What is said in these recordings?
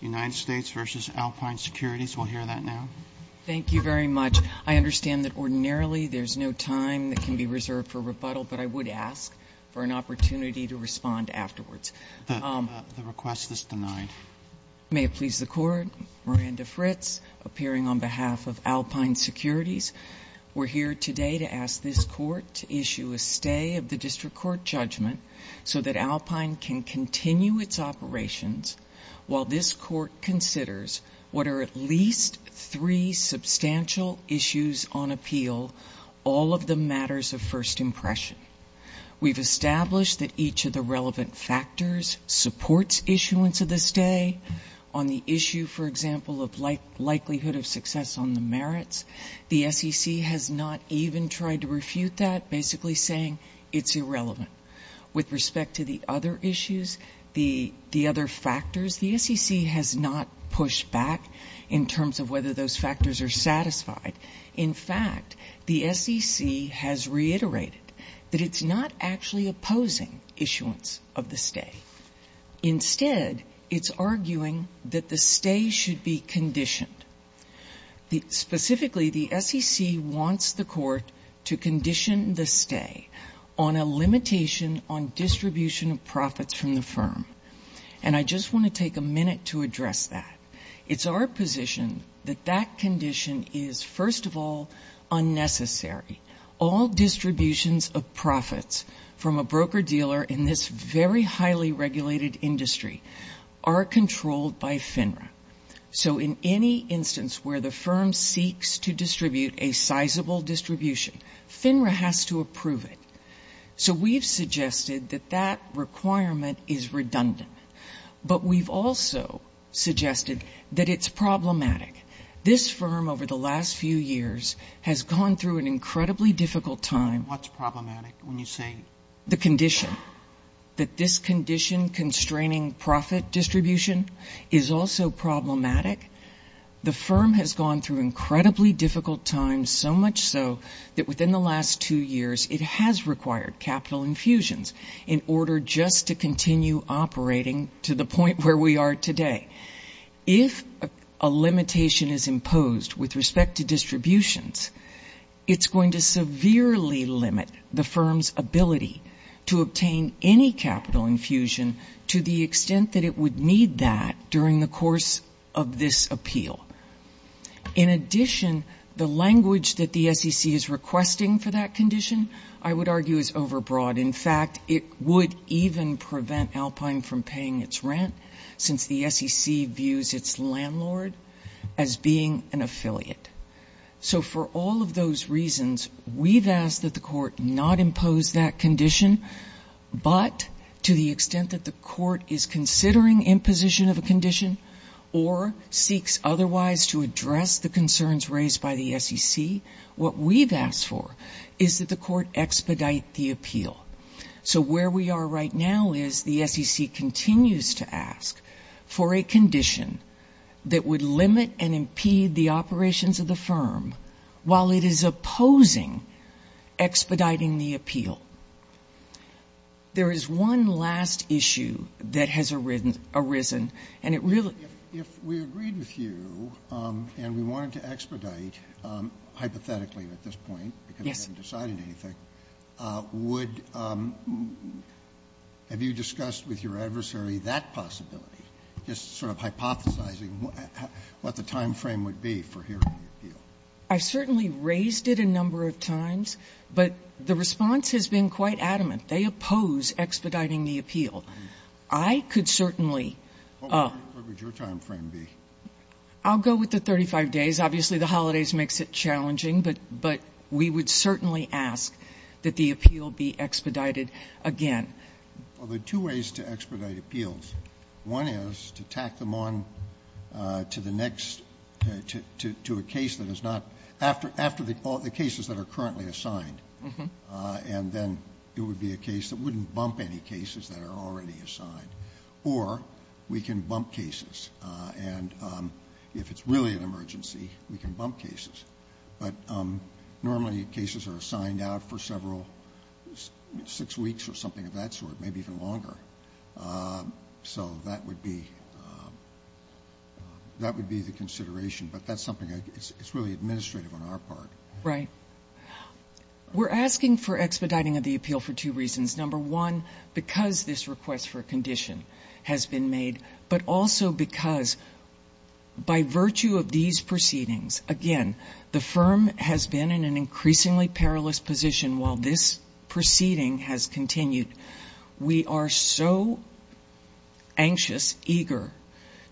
United States versus Alpine Securities. We'll hear that now. Thank you very much. I understand that ordinarily there's no time that can be reserved for rebuttal, but I would ask for an opportunity to respond afterwards. The request is denied. May it please the Court, Miranda Fritz, appearing on behalf of Alpine Securities. We're here today to ask this Court to issue a stay of the District Court judgment so that Alpine can continue its operations while this Court considers what are at least three substantial issues on appeal, all of them matters of first impression. We've established that each of the relevant factors supports issuance of the stay. On the issue, for example, of likelihood of success on the merits, the SEC has not even tried to refute that, basically saying it's irrelevant. With respect to the other issues, the other factors, the SEC has not pushed back in terms of whether those factors are satisfied. In fact, the SEC has reiterated that it's not actually opposing issuance of the stay. distribution of profits from the firm. And I just want to take a minute to address that. It's our position that that condition is, first of all, unnecessary. All distributions of profits from a broker dealer in this very highly regulated industry are controlled by FINRA. So in any instance where the firm seeks to distribute a sizable distribution, FINRA has to approve it. So we've suggested that that requirement is redundant. But we've also suggested that it's problematic. This firm, over the last few years, has gone through an incredibly difficult time. When you say the condition, that this condition constraining profit distribution is also problematic, the firm has gone through incredibly difficult times, so much so that within the last two years it has required capital infusions in order just to continue operating to the point where we are today. If a limitation is imposed with respect to distributions, it's going to severely limit the firm's ability to obtain any capital infusion to the extent that it would need that during the course of this appeal. In addition, the language that the SEC is requesting for that condition, I would argue, is overbroad. In fact, it would even prevent Alpine from paying its rent, since the SEC views its landlord as being an affiliate. So for all of those reasons, we've asked that the court not impose that condition. But to the extent that the court is considering imposition of a condition or seeks otherwise to address the concerns raised by the SEC, what we've asked for is that the court expedite the appeal. So where we are right now is the SEC continues to ask for a condition that would limit and impede the operations of the firm while it is opposing expediting the appeal. There is one last issue that has arisen, and it really ---- Roberts, if we agreed with you and we wanted to expedite hypothetically at this point because we haven't decided anything, would you have discussed with your adversary that possibility, just sort of hypothesizing what the time frame would be for hearing the appeal? I've certainly raised it a number of times, but the response has been quite adamant. They oppose expediting the appeal. I could certainly ---- What would your time frame be? I'll go with the 35 days. Obviously, the holidays makes it challenging. But we would certainly ask that the appeal be expedited again. Well, there are two ways to expedite appeals. One is to tack them on to the next, to a case that is not ---- after the cases that are currently assigned, and then it would be a case that wouldn't bump any cases that are already assigned, or we can bump cases. And if it's really an emergency, we can bump cases. But normally, cases are signed out for several, six weeks or something of that sort, maybe even longer. So that would be the consideration. But that's something that's really administrative on our part. Right. We're asking for expediting of the appeal for two reasons. Number one, because this request for a condition has been made, but also because by virtue of these proceedings, again, the firm has been in an increasingly perilous position while this proceeding has continued. We are so anxious, eager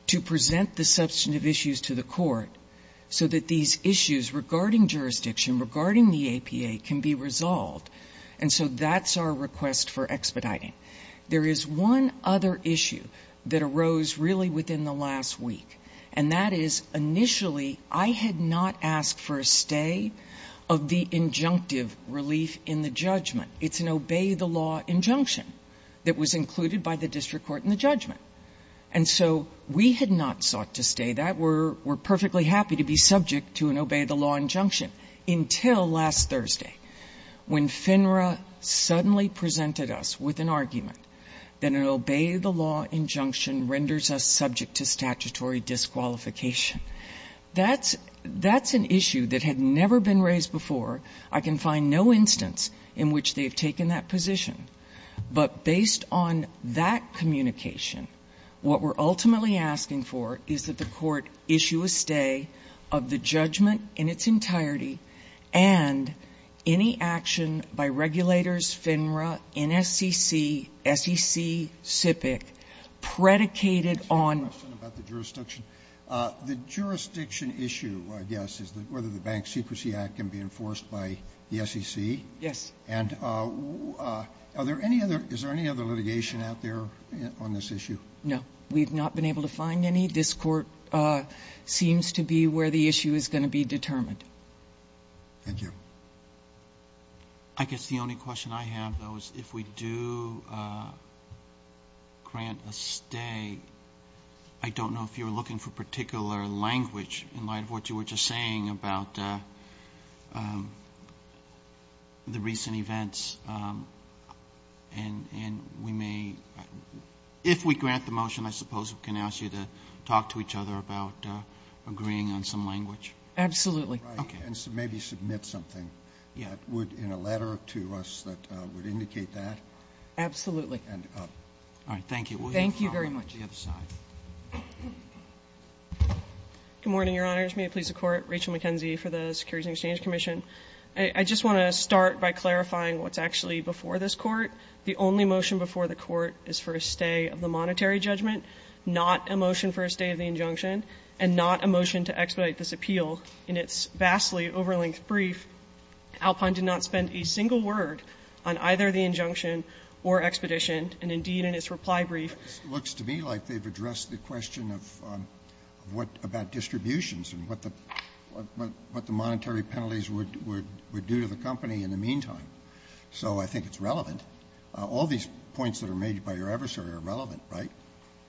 to present the substantive issues to the court so that these issues regarding jurisdiction, regarding the APA, can be resolved. And so that's our request for expediting. There is one other issue that arose really within the last week, and that is initially, I had not asked for a stay of the injunctive relief in the judgment. It's an obey the law injunction that was included by the district court in the judgment. And so we had not sought to stay that. We're perfectly happy to be subject to an obey the law injunction until last Thursday, when FINRA suddenly presented us with an argument that an obey the law injunction renders us subject to statutory disqualification. That's an issue that had never been raised before. I can find no instance in which they've taken that position. But based on that communication, what we're ultimately asking for is that the court issue a stay of the judgment in its entirety and any action by regulators, FINRA, NSCC, SEC, SIPC, predicated on the jurisdiction. The jurisdiction issue, I guess, is whether the Bank Secrecy Act can be enforced by the SEC. Yes. And are there any other, is there any other litigation out there on this issue? No, we've not been able to find any. This court seems to be where the issue is going to be determined. Thank you. I guess the only question I have, though, is if we do grant a stay, I don't know if you're looking for particular language in light of what you were just saying about the recent events, and we may, if we grant the motion, I suppose, we can ask you to talk to each other about agreeing on some language. Absolutely. Okay. And maybe submit something that would, in a letter to us, that would indicate that. Absolutely. And thank you. Thank you very much. The other side. Good morning, Your Honors. May it please the Court. Rachel McKenzie for the Securities and Exchange Commission. I just want to start by clarifying what's actually before this Court. The only motion before the Court is for a stay of the monetary judgment, not a motion for a stay of the injunction, and not a motion to expedite this appeal. In its vastly over-length brief, Alpine did not spend a single word on either the injunction or expedition, and indeed, in its reply brief. It looks to me like they've addressed the question of what about distributions and what the monetary penalties would do to the company in the meantime. So I think it's relevant. All these points that are made by your adversary are relevant, right?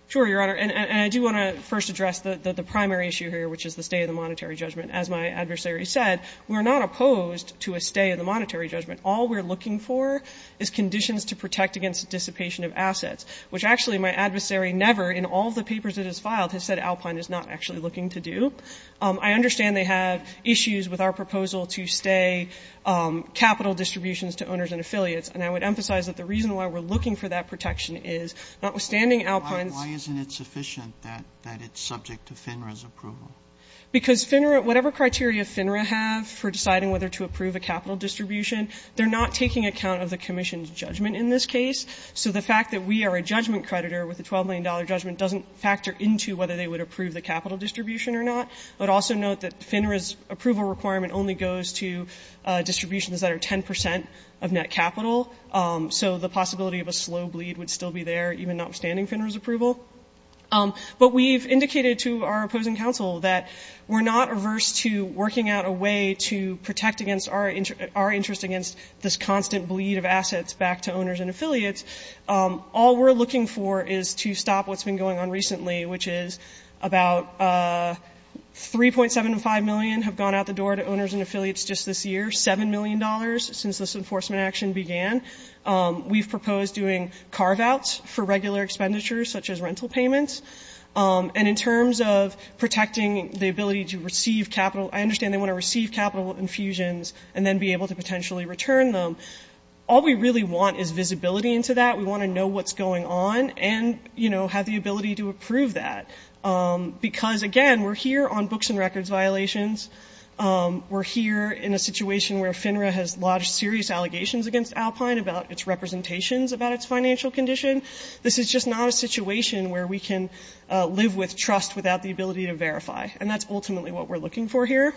Sure, Your Honor. And I do want to first address the primary issue here, which is the stay of the monetary judgment. As my adversary said, we're not opposed to a stay of the monetary judgment. All we're looking for is conditions to protect against dissipation of assets, which actually my adversary never, in all the papers it has filed, has said Alpine is not actually looking to do. I understand they have issues with our proposal to stay capital distributions to owners and affiliates, and I would emphasize that the reason why we're looking for that protection is, notwithstanding Alpine's ---- Why isn't it sufficient that it's subject to FINRA's approval? Because FINRA, whatever criteria FINRA have for deciding whether to approve a capital distribution, they're not taking account of the Commission's judgment in this case. So the fact that we are a judgment creditor with a $12 million judgment doesn't factor into whether they would approve the capital distribution or not. But also note that FINRA's approval requirement only goes to distributions that are 10% of net capital. So the possibility of a slow bleed would still be there, even notwithstanding FINRA's approval. But we've indicated to our opposing counsel that we're not averse to working out a way to protect against our interest against this constant bleed of assets back to owners and affiliates. All we're looking for is to stop what's been going on recently, which is about 3.75 million have gone out the door to owners and affiliates just this year, $7 million since this enforcement action began. We've proposed doing carve outs for regular expenditures such as rental payments. And in terms of protecting the ability to receive capital, I understand they want to receive capital infusions and then be able to potentially return them. All we really want is visibility into that. We want to know what's going on and have the ability to approve that. Because again, we're here on books and records violations. We're here in a situation where FINRA has lodged serious allegations against Alpine about its representations about its financial condition. This is just not a situation where we can live with trust without the ability to verify, and that's ultimately what we're looking for here.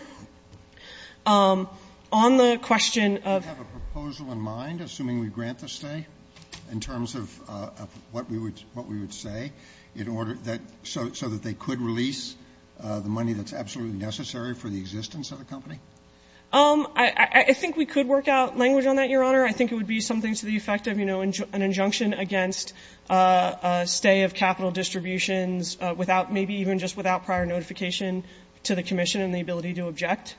On the question of- Do you have a proposal in mind, assuming we grant the stay, in terms of what we would say, so that they could release the money that's absolutely necessary for the existence of the company? I think we could work out language on that, Your Honor. I think it would be something to the effect of an injunction against a stay of capital distributions, maybe even just without prior notification to the commission and the ability to object.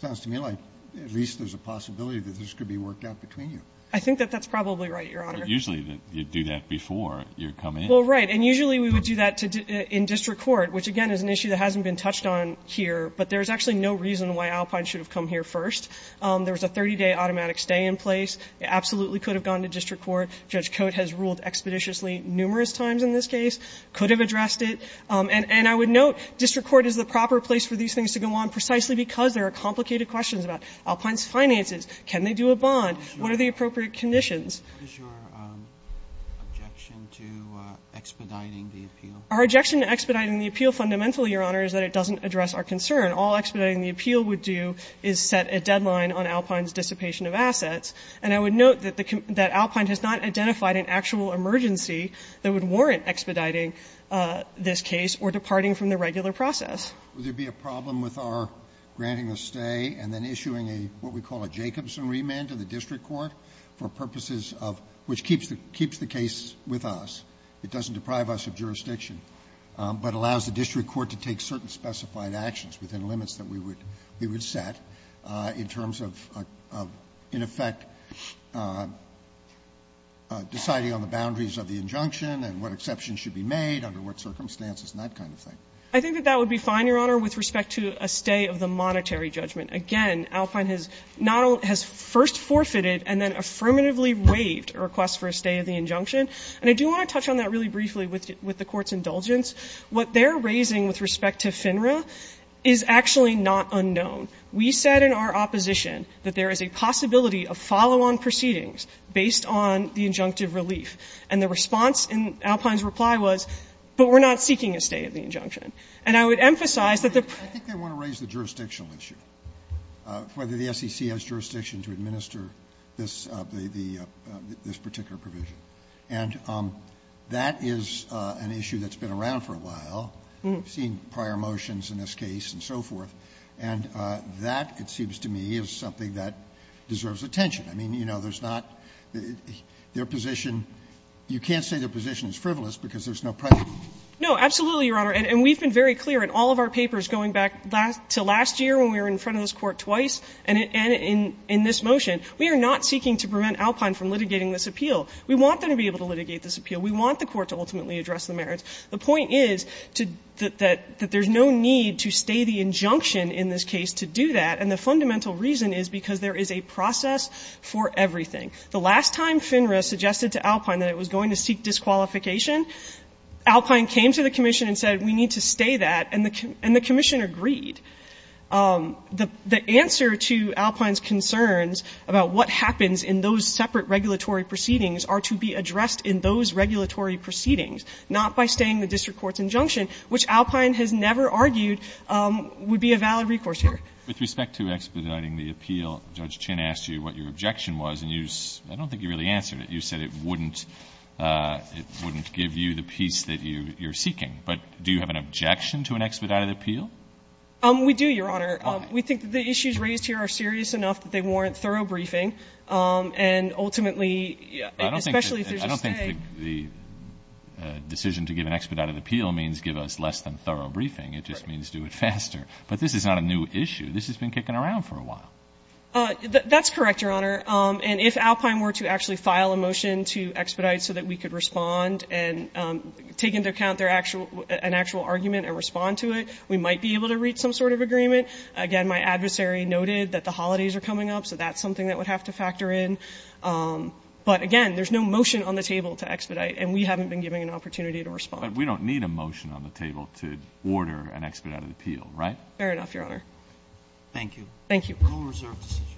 Sounds to me like at least there's a possibility that this could be worked out between you. I think that that's probably right, Your Honor. Usually you do that before you come in. Well, right, and usually we would do that in district court, which again, is an issue that hasn't been touched on here. But there's actually no reason why Alpine should have come here first. There was a 30-day automatic stay in place. It absolutely could have gone to district court. Judge Coate has ruled expeditiously numerous times in this case. Could have addressed it. And I would note district court is the proper place for these things to go on, precisely because there are complicated questions about Alpine's finances. Can they do a bond? What are the appropriate conditions? What is your objection to expediting the appeal? Our objection to expediting the appeal fundamentally, Your Honor, is that it doesn't address our concern. All expediting the appeal would do is set a deadline on Alpine's dissipation of assets. And I would note that Alpine has not identified an actual emergency that would warrant expediting this case or departing from the regular process. Roberts, would there be a problem with our granting a stay and then issuing what we call a Jacobson remand to the district court for purposes of which keeps the case with us, it doesn't deprive us of jurisdiction, but allows the district court to take certain specified actions within limits that we would set in terms of, in effect, deciding on the boundaries of the injunctive. I think that that would be fine, Your Honor, with respect to a stay of the monetary judgment. Again, Alpine has not only – has first forfeited and then affirmatively waived a request for a stay of the injunction. And I do want to touch on that really briefly with the Court's indulgence. What they're raising with respect to FINRA is actually not unknown. We said in our opposition that there is a possibility of follow-on proceedings based on the injunctive relief. And the response in Alpine's reply was, but we're not seeking a stay of the injunction. And I would emphasize that the pro- Roberts, I think they want to raise the jurisdictional issue, whether the SEC has jurisdiction to administer this particular provision. And that is an issue that's been around for a while. We've seen prior motions in this case and so forth. And that, it seems to me, is something that deserves attention. I mean, you know, there's not – their position – you can't say their position is frivolous because there's no precedent. No, absolutely, Your Honor. And we've been very clear in all of our papers going back to last year when we were in front of this Court twice, and in this motion, we are not seeking to prevent Alpine from litigating this appeal. We want them to be able to litigate this appeal. We want the Court to ultimately address the merits. The point is that there's no need to stay the injunction in this case to do that. And the fundamental reason is because there is a process for everything. The last time FINRA suggested to Alpine that it was going to seek disqualification, Alpine came to the commission and said, we need to stay that. And the commission agreed. The answer to Alpine's concerns about what happens in those separate regulatory proceedings are to be addressed in those regulatory proceedings, not by staying the district court's injunction, which Alpine has never argued would be a valid recourse here. With respect to expediting the appeal, Judge Chin asked you what your objection was, and you, I don't think you really answered it. You said it wouldn't, it wouldn't give you the peace that you're seeking. But do you have an objection to an expedited appeal? We do, Your Honor. Why? We think the issues raised here are serious enough that they warrant thorough briefing, and ultimately, especially if there's a stay. I don't think the decision to give an expedited appeal means give us less than thorough briefing. It just means do it faster. But this is not a new issue. This has been kicking around for a while. That's correct, Your Honor. And if Alpine were to actually file a motion to expedite so that we could respond and take into account their actual, an actual argument and respond to it, we might be able to reach some sort of agreement. Again, my adversary noted that the holidays are coming up, so that's something that would have to factor in. But again, there's no motion on the table to expedite, and we haven't been given an opportunity to respond. But we don't need a motion on the table to order an expedited appeal, right? Fair enough, Your Honor. Thank you. Thank you. No reserved decisions.